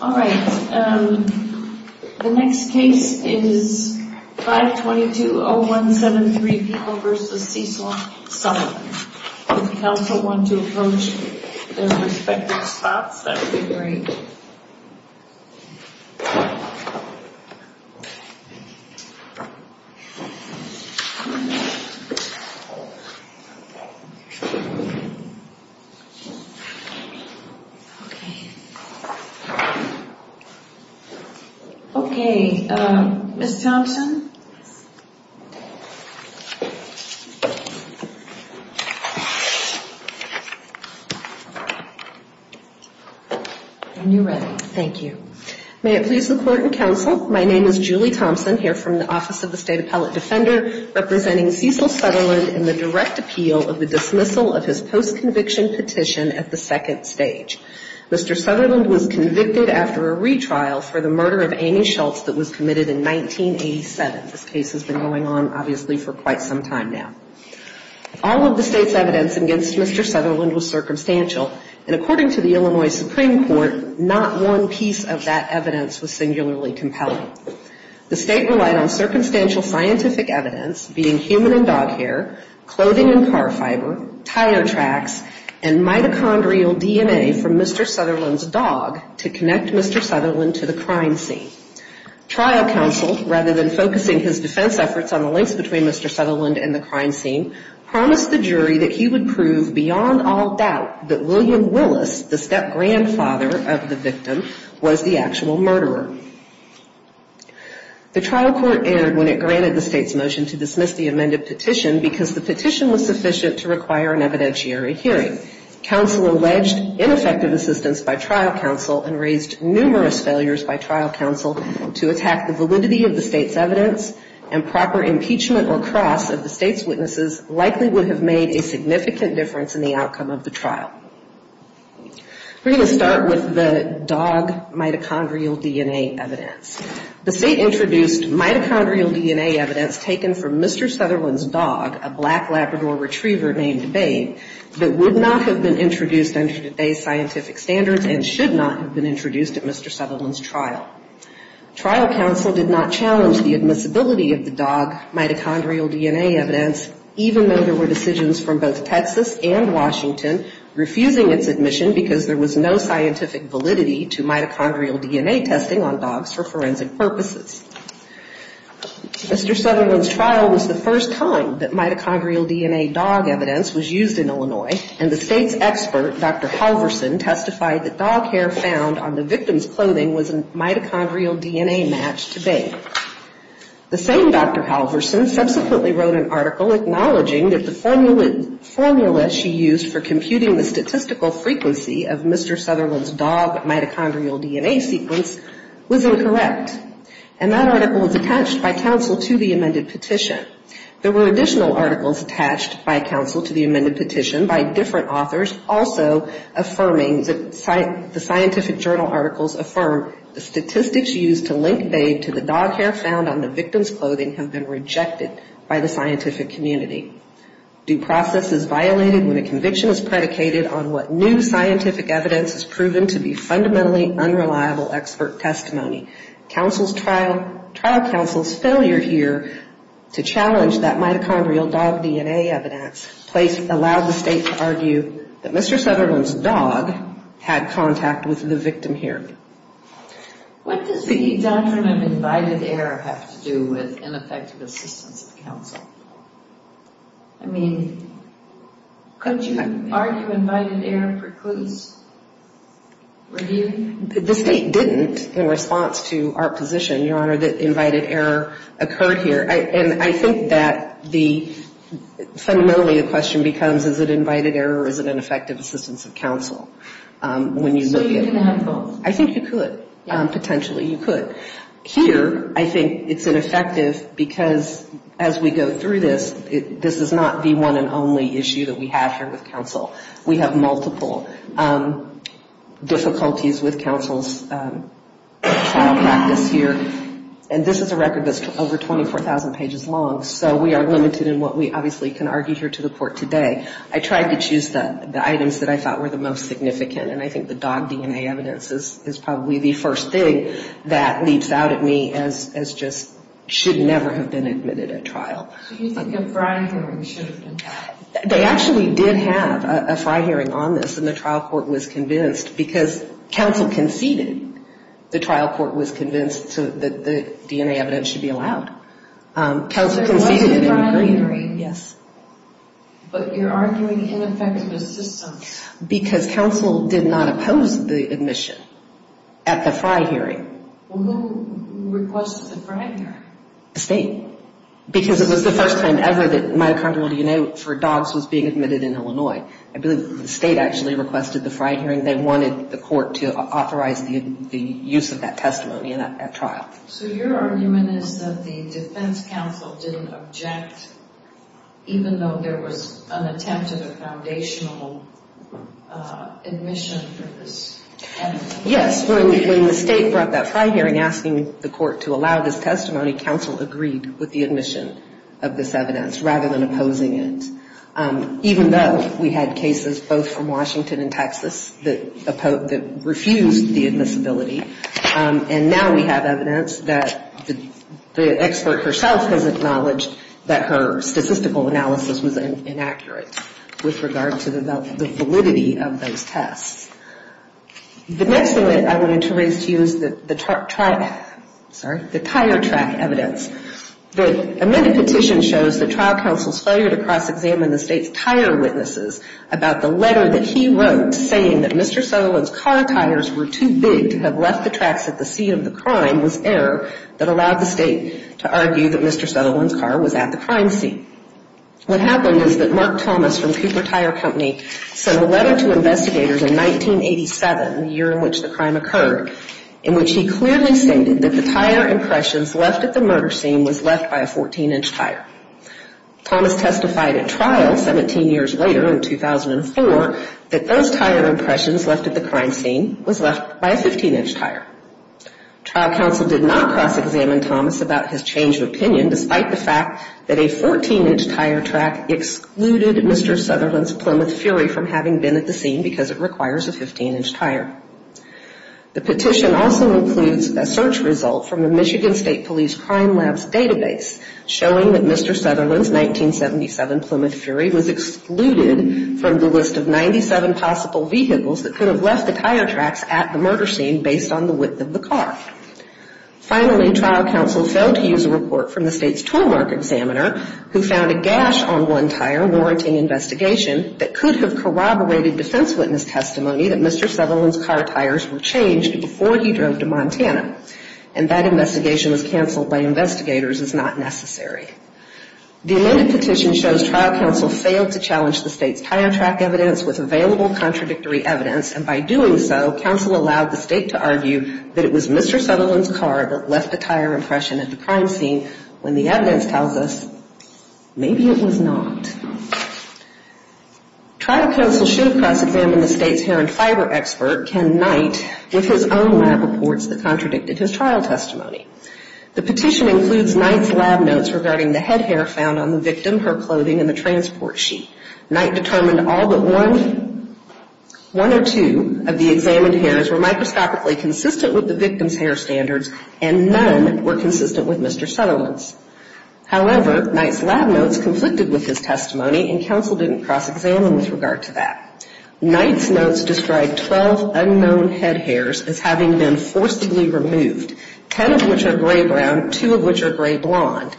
All right, the next case is 522-0173 People v. Cecil, Sutherland. If the council want to approach their respective spots, that would be great. Okay, Ms. Thompson. When you're ready. Thank you. May it please the Court and Council, my name is Julie Thompson, here from the Office of the State Appellate Defender, representing Cecil Sutherland in the direct appeal of the dismissal of his post-conviction petition at the second stage. Mr. Sutherland was convicted after a retrial for the murder of Amy Schultz that was committed in 1987. This case has been going on, obviously, for quite some time now. All of the state's evidence against Mr. Sutherland was circumstantial, and according to the Illinois Supreme Court, not one piece of that evidence was singularly compelling. The state relied on circumstantial scientific evidence, being human and dog hair, clothing and car fiber, tire tracks, and mitochondrial DNA from the victim, Mr. Sutherland's dog, to connect Mr. Sutherland to the crime scene. Trial counsel, rather than focusing his defense efforts on the links between Mr. Sutherland and the crime scene, promised the jury that he would prove beyond all doubt that William Willis, the step-grandfather of the victim, was the actual murderer. The trial court erred when it granted the state's motion to dismiss the amended petition because the petition was sufficient to require an evidentiary hearing. Counsel alleged ineffective assistance by trial counsel and raised numerous failures by trial counsel to attack the validity of the state's evidence and proper impeachment or cross of the state's witnesses likely would have made a significant difference in the outcome of the trial. We're going to start with the dog mitochondrial DNA evidence. The state introduced mitochondrial DNA evidence taken from Mr. Sutherland's dog, a black Labrador retriever named Babe, that would not have been introduced under today's scientific standards and should not have been introduced at Mr. Sutherland's trial. Trial counsel did not challenge the admissibility of the dog mitochondrial DNA evidence, even though there were decisions from both Texas and Washington refusing its admission because there was no scientific validity to mitochondrial DNA testing on dogs for forensic purposes. Mr. Sutherland's trial was the first time that mitochondrial DNA dog evidence was used in Illinois, and the state's expert, Dr. Halverson, testified that dog hair found on the victim's clothing was a mitochondrial DNA match to Babe. The same Dr. Halverson subsequently wrote an article acknowledging that the formula she used for computing the statistical frequency of Mr. Sutherland's dog mitochondrial DNA sequence was incorrect. And that article was attached by counsel to the amended petition. There were additional articles attached by counsel to the amended petition by different authors, also affirming the scientific journal articles affirm the statistics used to link Babe to the dog hair found on the victim's clothing have been rejected by the scientific community. Due process is violated when a conviction is predicated on what new scientific evidence is proven to be fundamentally unreliable expert testimony. Counsel's trial, trial counsel's failure here to challenge that mitochondrial dog DNA evidence placed, allowed the state to argue that Mr. Sutherland's dog had contact with the victim hair. What does the doctrine of invited error have to do with ineffective assistance of counsel? I mean, could you argue invited error precludes review? The state didn't in response to our position, Your Honor, that invited error occurred here. And I think that the fundamentally the question becomes, is it invited error or is it ineffective assistance of counsel? I think you could. Potentially you could. Here, I think it's ineffective because as we go through this, this is not the one and only issue that we have here with counsel's trial practice here. And this is a record that's over 24,000 pages long. So we are limited in what we obviously can argue here to the court today. I tried to choose the items that I thought were the most significant. And I think the dog DNA evidence is probably the first thing that leaps out at me as just should never have been admitted at trial. Do you think a fry hearing should have been? They actually did have a fry hearing on this. And the trial court was convinced because counsel conceded. The trial court was convinced that the DNA evidence should be allowed. There was a fry hearing. Yes. But you're arguing ineffective assistance. Because counsel did not oppose the admission at the fry hearing. Well, who requested the fry hearing? The state. Because it was the first time ever that myocardial DNA for dogs was being admitted in Illinois. I believe the state actually requested the fry hearing. They wanted the court to authorize the use of that testimony at trial. So your argument is that the defense counsel didn't object even though there was an attempt at a foundational evidence? Yes. When the state brought that fry hearing asking the court to allow this testimony, counsel agreed with the admission of this evidence rather than opposing it. Even though we had cases both from Washington and Texas that refused the admissibility. And now we have evidence that the expert herself has acknowledged that her statistical analysis was inaccurate with regard to the validity of the evidence. The next thing that I wanted to raise to you is the tire track evidence. The admitted petition shows that trial counsel's failure to cross-examine the state's tire witnesses about the letter that he wrote saying that Mr. Sutherland's car tires were too big to have left the tracks at the scene of the crime was error that allowed the state to argue that Mr. Sutherland's car was at the crime scene. What happened is that Mark Thomas from Cooper Tire Company sent a letter to investigators in 1987, the year in which the crime occurred, in which he clearly stated that the tire impressions left at the murder scene was left by a 14-inch tire. Thomas testified at trial 17 years later in 2004 that those tire impressions left at the crime scene was left by a 15-inch tire. Trial counsel did not cross-examine Thomas about his change of opinion, despite the fact that a 14-inch tire track excluded Mr. Sutherland's Plymouth Fury from having been at the scene because it requires a 15-inch tire. The petition also includes a search result from the Michigan State Police Crime Lab's database showing that Mr. Sutherland's 1977 Plymouth Fury was excluded from the list of 97 possible vehicles that could have left the tire tracks at the murder scene based on the word that was used. Finally, trial counsel failed to use a report from the state's toolmark examiner who found a gash on one tire warranting investigation that could have corroborated defense witness testimony that Mr. Sutherland's car tires were changed before he drove to Montana. And that investigation was canceled by investigators as not necessary. The amended petition shows trial counsel failed to challenge the state's tire track evidence with available contradictory evidence, and by doing so, counsel allowed the state to argue that the tire tracks were changed. But it was Mr. Sutherland's car that left a tire impression at the crime scene when the evidence tells us maybe it was not. Trial counsel should have cross-examined the state's hair and fiber expert, Ken Knight, with his own lab reports that contradicted his trial testimony. The petition includes Knight's lab notes regarding the head hair found on the victim, her clothing, and the transport sheet. Knight determined all but one or two of the examined hairs were microscopically consistent with the victim's hair standards, and none were consistent with Mr. Sutherland's. However, Knight's lab notes conflicted with his testimony, and counsel didn't cross-examine with regard to that. Knight's notes described 12 unknown head hairs as having been forcibly removed, 10 of which are gray-brown, 2 of which are gray-blonde.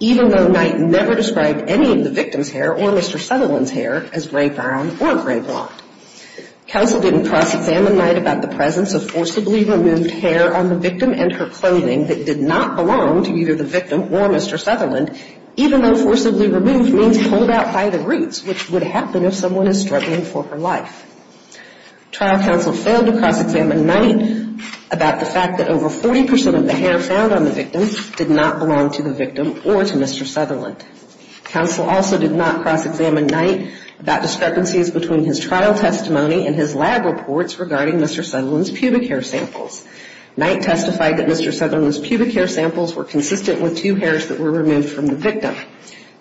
Even though Knight never described any of the victim's hair or Mr. Sutherland's hair as gray-brown or gray-blonde. Counsel didn't cross-examine Knight about the presence of forcibly removed hair on the victim and her clothing that did not belong to either the victim or Mr. Sutherland, even though forcibly removed means pulled out by the roots, which would happen if someone is struggling for her life. Trial counsel failed to cross-examine Knight about the fact that over 40% of the hair found on the victim did not belong to the victim or to Mr. Sutherland. Counsel also did not cross-examine Knight about discrepancies between his trial testimony and his lab reports regarding Mr. Sutherland's pubic hair samples. Knight testified that Mr. Sutherland's pubic hair samples were consistent with two hairs that were removed from the victim.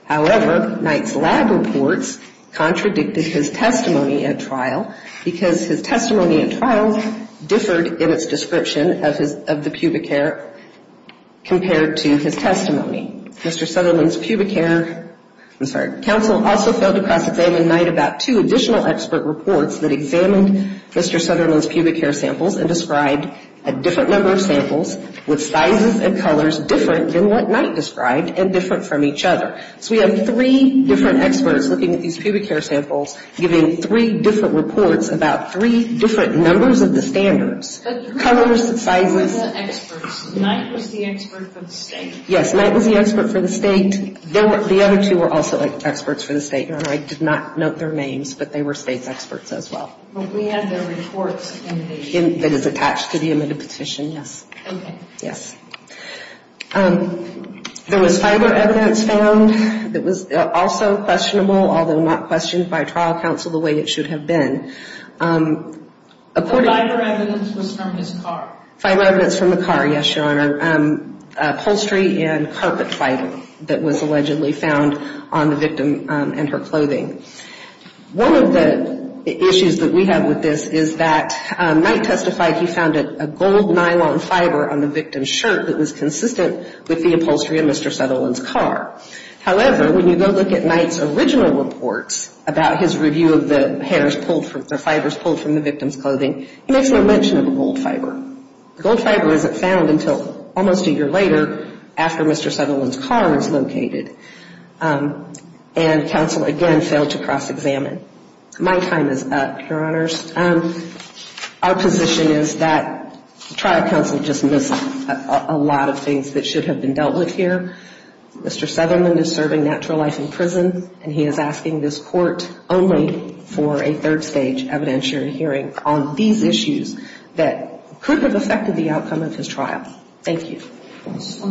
However, Knight's lab reports contradicted his testimony at trial because his testimony at trial differed in its description of the pubic hair compared to his testimony. Mr. Sutherland's pubic hair, I'm sorry, counsel also failed to cross-examine Knight about two additional expert reports that examined Mr. Sutherland's pubic hair samples and described a different number of samples with sizes and colors different than what Knight described and different from each other. So we have three different experts looking at these pubic hair samples, giving three different reports about three different numbers of the standards, colors and sizes. But who were the experts? Knight was the expert for the state? Yes, Knight was the expert for the state. The other two were also experts for the state. I did not note their names, but they were state's experts as well. But we have their reports in the... Yes. There was fiber evidence found that was also questionable, although not questioned by trial counsel the way it should have been. The fiber evidence was from his car? Fiber evidence from the car, yes, Your Honor. Upholstery and carpet fighting that was allegedly found on the victim and her clothing. One of the issues that we have with this is that Knight testified he found a gold nylon fiber on the victim's shirt. It was consistent with the upholstery on Mr. Sutherland's car. However, when you go look at Knight's original reports about his review of the fibers pulled from the victim's clothing, he makes no mention of a gold fiber. The gold fiber isn't found until almost a year later after Mr. Sutherland's car is located. And counsel, again, failed to cross-examine. My time is up, Your Honors. Our position is that trial counsel just missed a lot of things that should have been dealt with here. Mr. Sutherland is serving natural life in prison, and he is asking this court only for a third-stage evidentiary hearing on these issues that could have affected the outcome of his trial. Thank you. I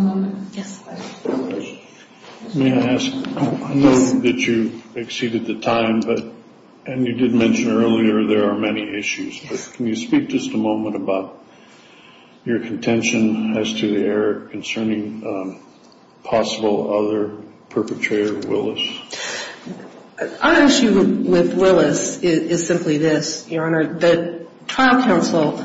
know that you exceeded the time, and you did mention earlier there are many issues. Can you speak just a moment about your contention as to the error concerning possible other perpetrator, Willis? Our issue with Willis is simply this, Your Honor. The trial counsel,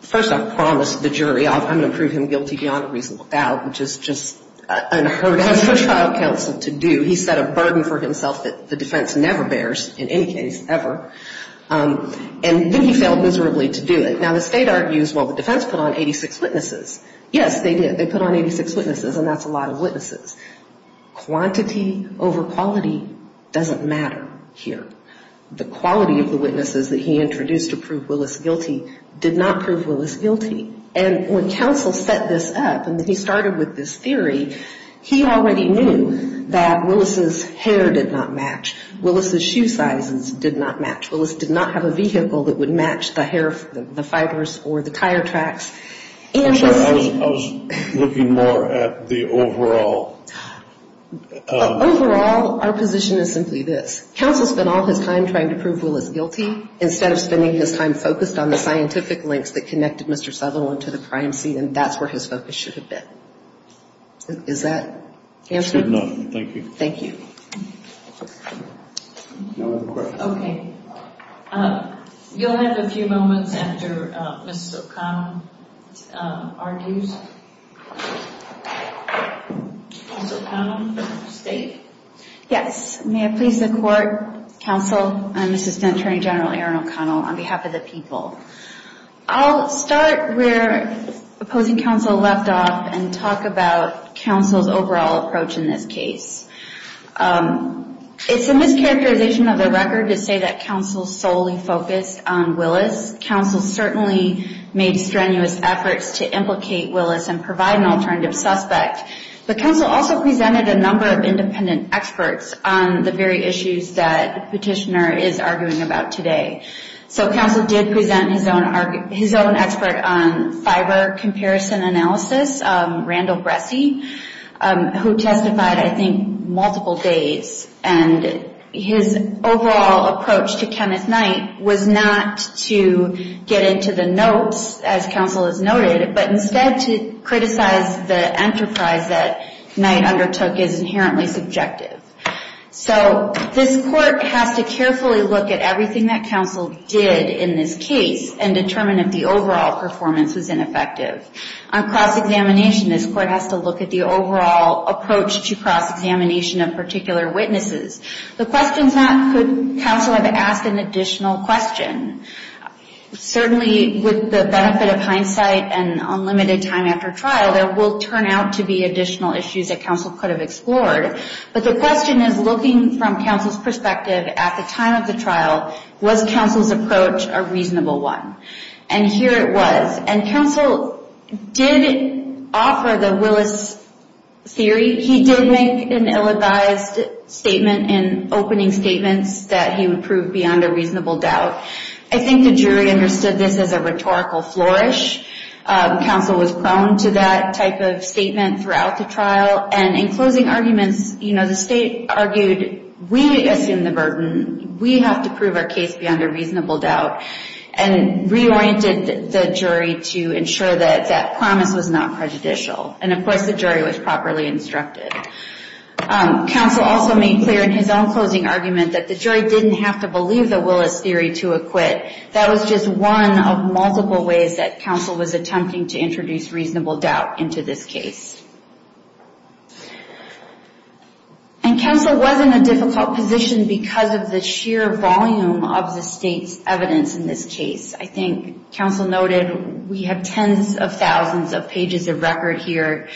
first I've promised the jury I'm going to prove him guilty beyond a reasonable doubt, which is just unheard of for trial counsel to do. He set a burden for himself that the defense never bears, in any case ever. And then he failed miserably to do it. Now, the State argues, well, the defense put on 86 witnesses. Yes, they did. They put on 86 witnesses, and that's a lot of witnesses. Quantity over quality doesn't matter here. The quality of the witnesses that he introduced to prove Willis guilty did not prove Willis guilty. And when counsel set this up, and he started with this theory, he already knew that Willis's hair did not match, Willis's shoe sizes did not match, Willis did not have a vehicle that would match the fibers or the tire tracks. I'm sorry, I was looking more at the overall. Overall, our position is simply this. Counsel spent all his time trying to prove Willis guilty instead of spending his time focused on the scientific links that connected Mr. Sutherland to the crime scene, and that's where his focus should have been. Is that the answer? No, thank you. You'll have a few moments after Ms. O'Connell argues. Ms. O'Connell, State? Yes. May it please the Court, Counsel, and Assistant Attorney General Erin O'Connell, on behalf of the people. I'll start where opposing counsel left off and talk about counsel's overall approach in this case. It's a mischaracterization of the record to say that counsel solely focused on Willis. Counsel certainly made strenuous efforts to implicate Willis and provide an alternative suspect. But counsel also presented a number of independent experts on the very issues that petitioner is arguing about today. So counsel did present his own expert on fiber comparison analysis, Randall Bressey, who testified, I think, multiple days. And his overall approach to Kenneth Knight was not to get into the notes, as counsel has noted, but instead to criticize the enterprise that Knight undertook is inherently subjective. So this Court has to carefully look at everything that counsel did in this case and determine if the overall performance was ineffective. On cross-examination, this Court has to look at the overall approach to cross-examination of particular witnesses. The question is not could counsel have asked an additional question. Certainly with the benefit of hindsight and unlimited time after trial, there will turn out to be additional issues that counsel could have explored. But the question is, looking from counsel's perspective at the time of the trial, was counsel's approach a reasonable one? And here it was. And counsel did offer the Willis theory. He did make an ill-advised statement in opening statements that he would prove beyond a reasonable doubt. I think the jury understood this as a rhetorical flourish. Counsel was prone to that type of statement throughout the trial. And in closing arguments, you know, the State argued, we assume the burden. We have to prove our case beyond a reasonable doubt and reoriented the jury to ensure that that promise was not prejudicial. And, of course, the jury was properly instructed. Counsel also made clear in his own closing argument that the jury didn't have to believe the Willis theory to acquit. That was just one of multiple ways that counsel was attempting to introduce reasonable doubt into this case. And counsel was in a difficult position because of the sheer volume of the State's evidence in this case. I think counsel noted we have tens of thousands of pages of record here.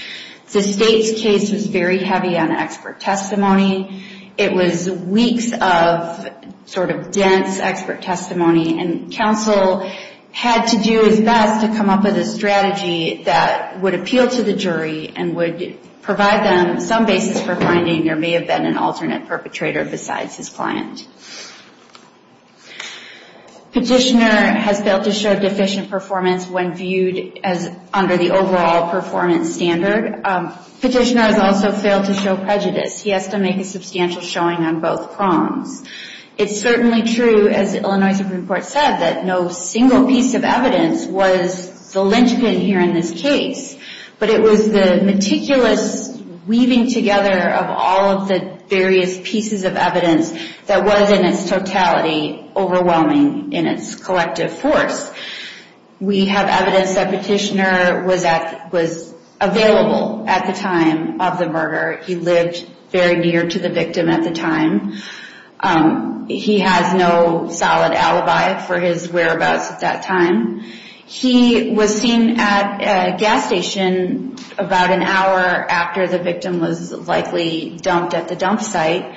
The State's case was very heavy on expert testimony. It was weeks of sort of dense expert testimony. And counsel had to do his best to come up with a strategy that would appeal to the jury and would provide them some basis for finding there may have been an alternate perpetrator besides his client. Petitioner has failed to show deficient performance when viewed as under the overall performance standard. Petitioner has also failed to show prejudice. He has to make a substantial showing on both prongs. It's certainly true, as the Illinois Supreme Court said, that no single piece of evidence was the linchpin here in this case. But it was the meticulous weaving together of all of the various pieces of evidence that was in its totality overwhelming in its collective force. We have evidence that Petitioner was available at the time of the murder. He lived very near to the victim at the time. He has no solid alibi for his whereabouts at that time. He was seen at a gas station about an hour after the victim was likely dumped at the dump site.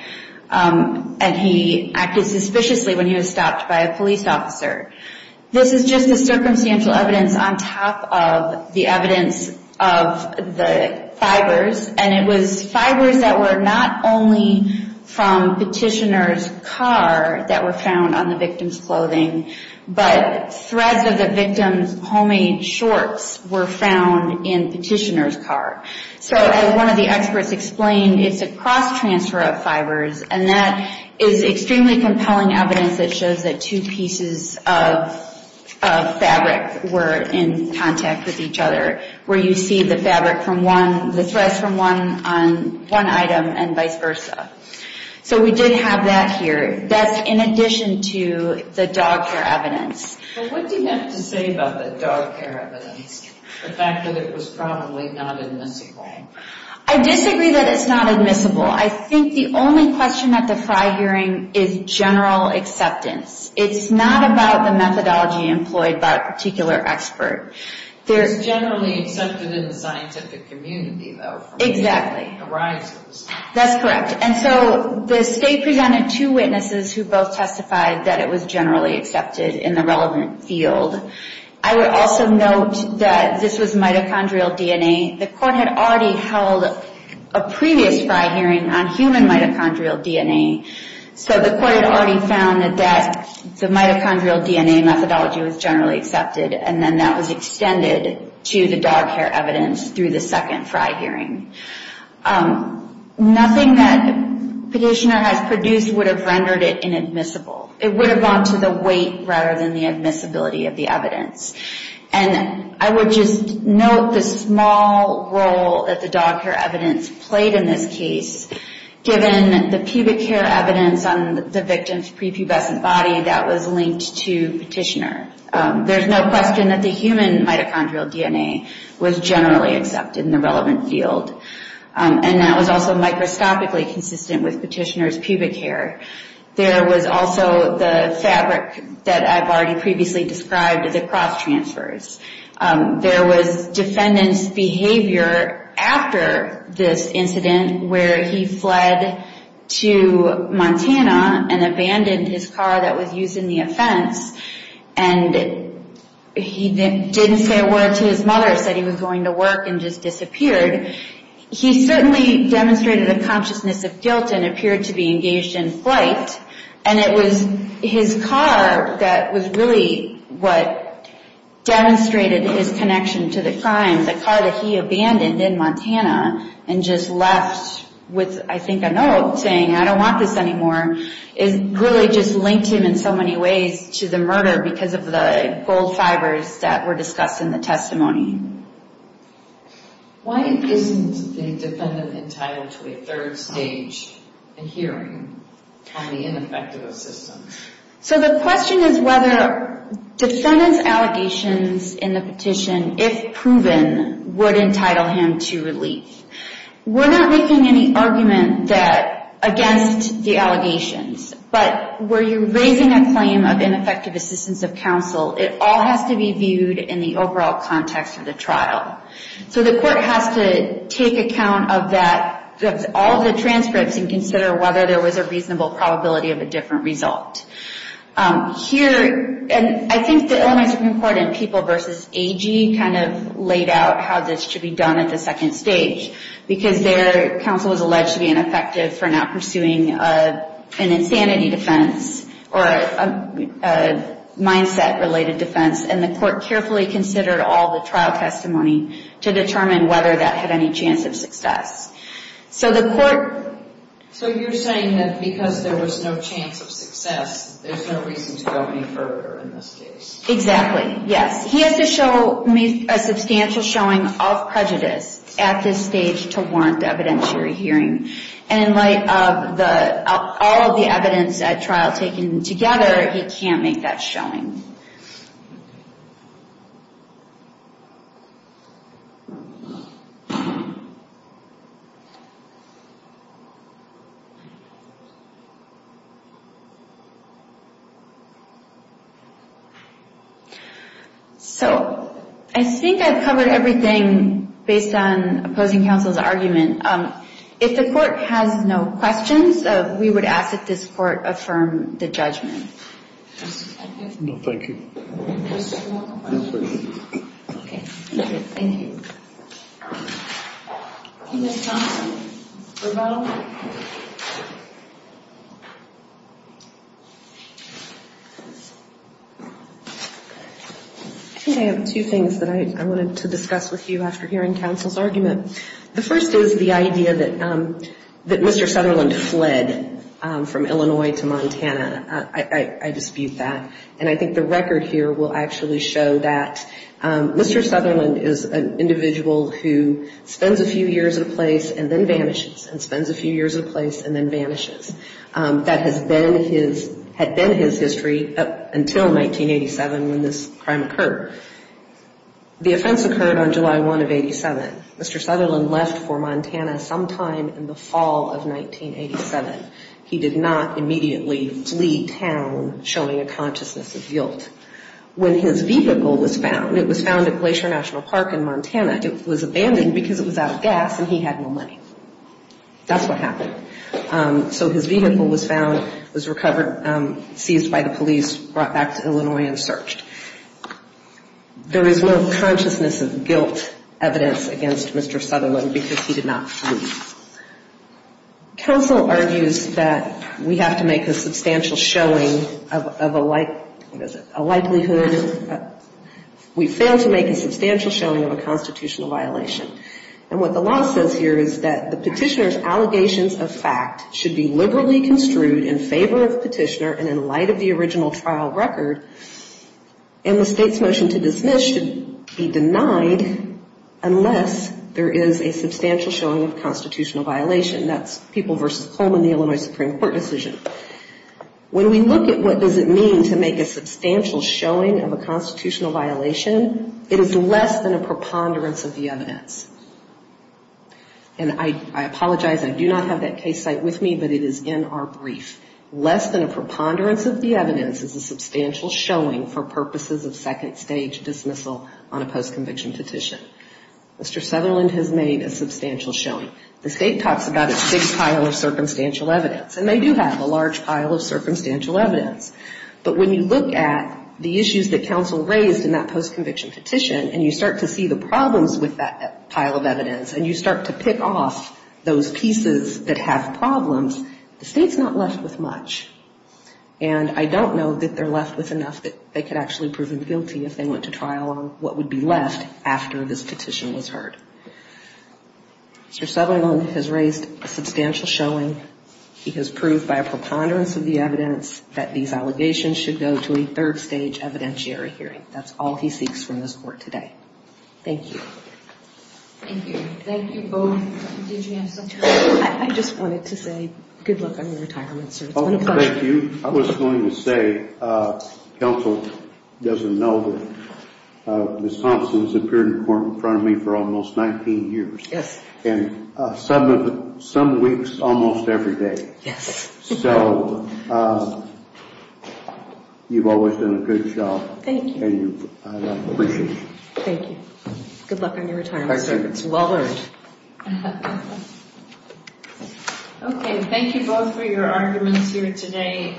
And he acted suspiciously when he was stopped by a police officer. This is just the circumstantial evidence on top of the evidence of the fibers. And it was fibers that were not only from Petitioner's car that were found on the victim's clothing, but threads of the victim's homemade shorts were found in Petitioner's car. So as one of the experts explained, it's a cross-transfer of fibers. And that is extremely compelling evidence that shows that two pieces of fabric were in contact with each other, where you see the fabric from one, the threads from one item and vice versa. So we did have that here. That's in addition to the dog care evidence. But what do you have to say about the dog care evidence, the fact that it was probably not admissible? I disagree that it's not admissible. I think the only question at the FRI hearing is general acceptance. It's not about the methodology employed by a particular expert. It's generally accepted in the scientific community, though. Exactly. That's correct. And so the state presented two witnesses who both testified that it was generally accepted in the relevant field. I would also note that this was mitochondrial DNA. The court had already held a previous FRI hearing on human mitochondrial DNA. So the court had already found that the mitochondrial DNA methodology was generally accepted. And then that was extended to the dog care evidence through the second FRI hearing. Nothing that Petitioner has produced would have rendered it inadmissible. It would have gone to the weight rather than the admissibility of the evidence. And I would just note the small role that the dog care evidence played in this case, given the pubic hair evidence on the victim's prepubescent body that was linked to Petitioner. There's no question that the human mitochondrial DNA was generally accepted in the relevant field. And that was also microscopically consistent with Petitioner's pubic hair. There was also the fabric that I've already previously described, the cross-transfers. There was defendant's behavior after this incident where he fled to Montana and abandoned his car that was used in the offense. And he didn't say a word to his mother, said he was going to work and just disappeared. He certainly demonstrated a consciousness of guilt and appeared to be engaged in flight. And it was his car that was really what demonstrated his connection to the crime. The car that he abandoned in Montana and just left with, I think, a note saying, I don't want this anymore, really just linked him in so many ways to the murder because of the gold fibers that were discussed in the testimony. Why isn't the defendant entitled to a third stage in hearing on the ineffective assistance? So the question is whether defendant's allegations in the petition, if proven, would entitle him to relief. We're not making any argument against the allegations. But where you're raising a claim of ineffective assistance of counsel, it all has to be viewed in the overall context of the trial. So the court has to take account of that, of all the transcripts, and consider whether there was a reasonable probability of a different result. Here, and I think the Illinois Supreme Court in People v. Agee kind of laid out how this should be done at the second stage. Because their counsel was alleged to be ineffective for not pursuing an insanity defense or a mindset-related defense, and the court carefully considered all the trial testimony to determine whether that had any chance of success. So you're saying that because there was no chance of success, there's no reason to go any further in this case? Exactly, yes. He has to show a substantial showing of prejudice at this stage to warrant evidentiary hearing. And in light of all of the evidence at trial taken together, he can't make that showing. So I think I've covered everything based on opposing counsel's argument. If the court has no questions, we would ask that this court affirm the judgment. No, thank you. Okay. Thank you. Ms. Johnson, rebuttal? I think I have two things that I wanted to discuss with you after hearing counsel's argument. The first is the idea that Mr. Sutherland fled from Illinois to Montana. I dispute that. And I think the record here will actually show that Mr. Sutherland is an individual who spends a few years in a place and then vanishes, and spends a few years in a place and then vanishes. That had been his history until 1987 when this crime occurred. The offense occurred on July 1 of 87. Mr. Sutherland left for Montana sometime in the fall of 1987. He did not immediately flee town, showing a consciousness of guilt. When his vehicle was found, it was found at Glacier National Park in Montana. It was abandoned because it was out of gas and he had no money. That's what happened. So his vehicle was found, was recovered, seized by the police, brought back to Illinois and searched. There is no consciousness of guilt evidence against Mr. Sutherland because he did not flee. Counsel argues that we have to make a substantial showing of a likelihood, we fail to make a substantial showing of a constitutional violation. And what the law says here is that the petitioner's allegations of fact should be liberally construed in favor of the petitioner and in light of the original trial record, and the state's motion to dismiss should be denied unless there is a substantial showing of a constitutional violation. When we look at what does it mean to make a substantial showing of a constitutional violation, it is less than a preponderance of the evidence. And I apologize, I do not have that case site with me, but it is in our brief. Less than a preponderance of the evidence is a substantial showing for purposes of second stage dismissal on a post-conviction petition. Mr. Sutherland has made a substantial showing. The state talks about a big pile of circumstantial evidence, and they do have a large pile of circumstantial evidence. But when you look at the issues that counsel raised in that post-conviction petition, and you start to see the problems with that pile of evidence, and you start to pick off those pieces that have problems, the state's not left with much. And I don't know that they're left with enough that they could actually prove him guilty if they went to trial on what would be left after this petition was heard. Mr. Sutherland has raised a substantial showing. He has proved by a preponderance of the evidence that these allegations should go to a third stage evidentiary hearing. That's all he seeks from this Court today. Thank you. Thank you both. I just wanted to say good luck on your retirement. Thank you. I was going to say counsel doesn't know that Ms. Thompson has appeared in court in front of me for almost 19 years. And some weeks almost every day. So you've always done a good job, and I appreciate it. Thank you. Good luck on your retirement, sir. It's well earned. Okay, thank you both for your arguments here today.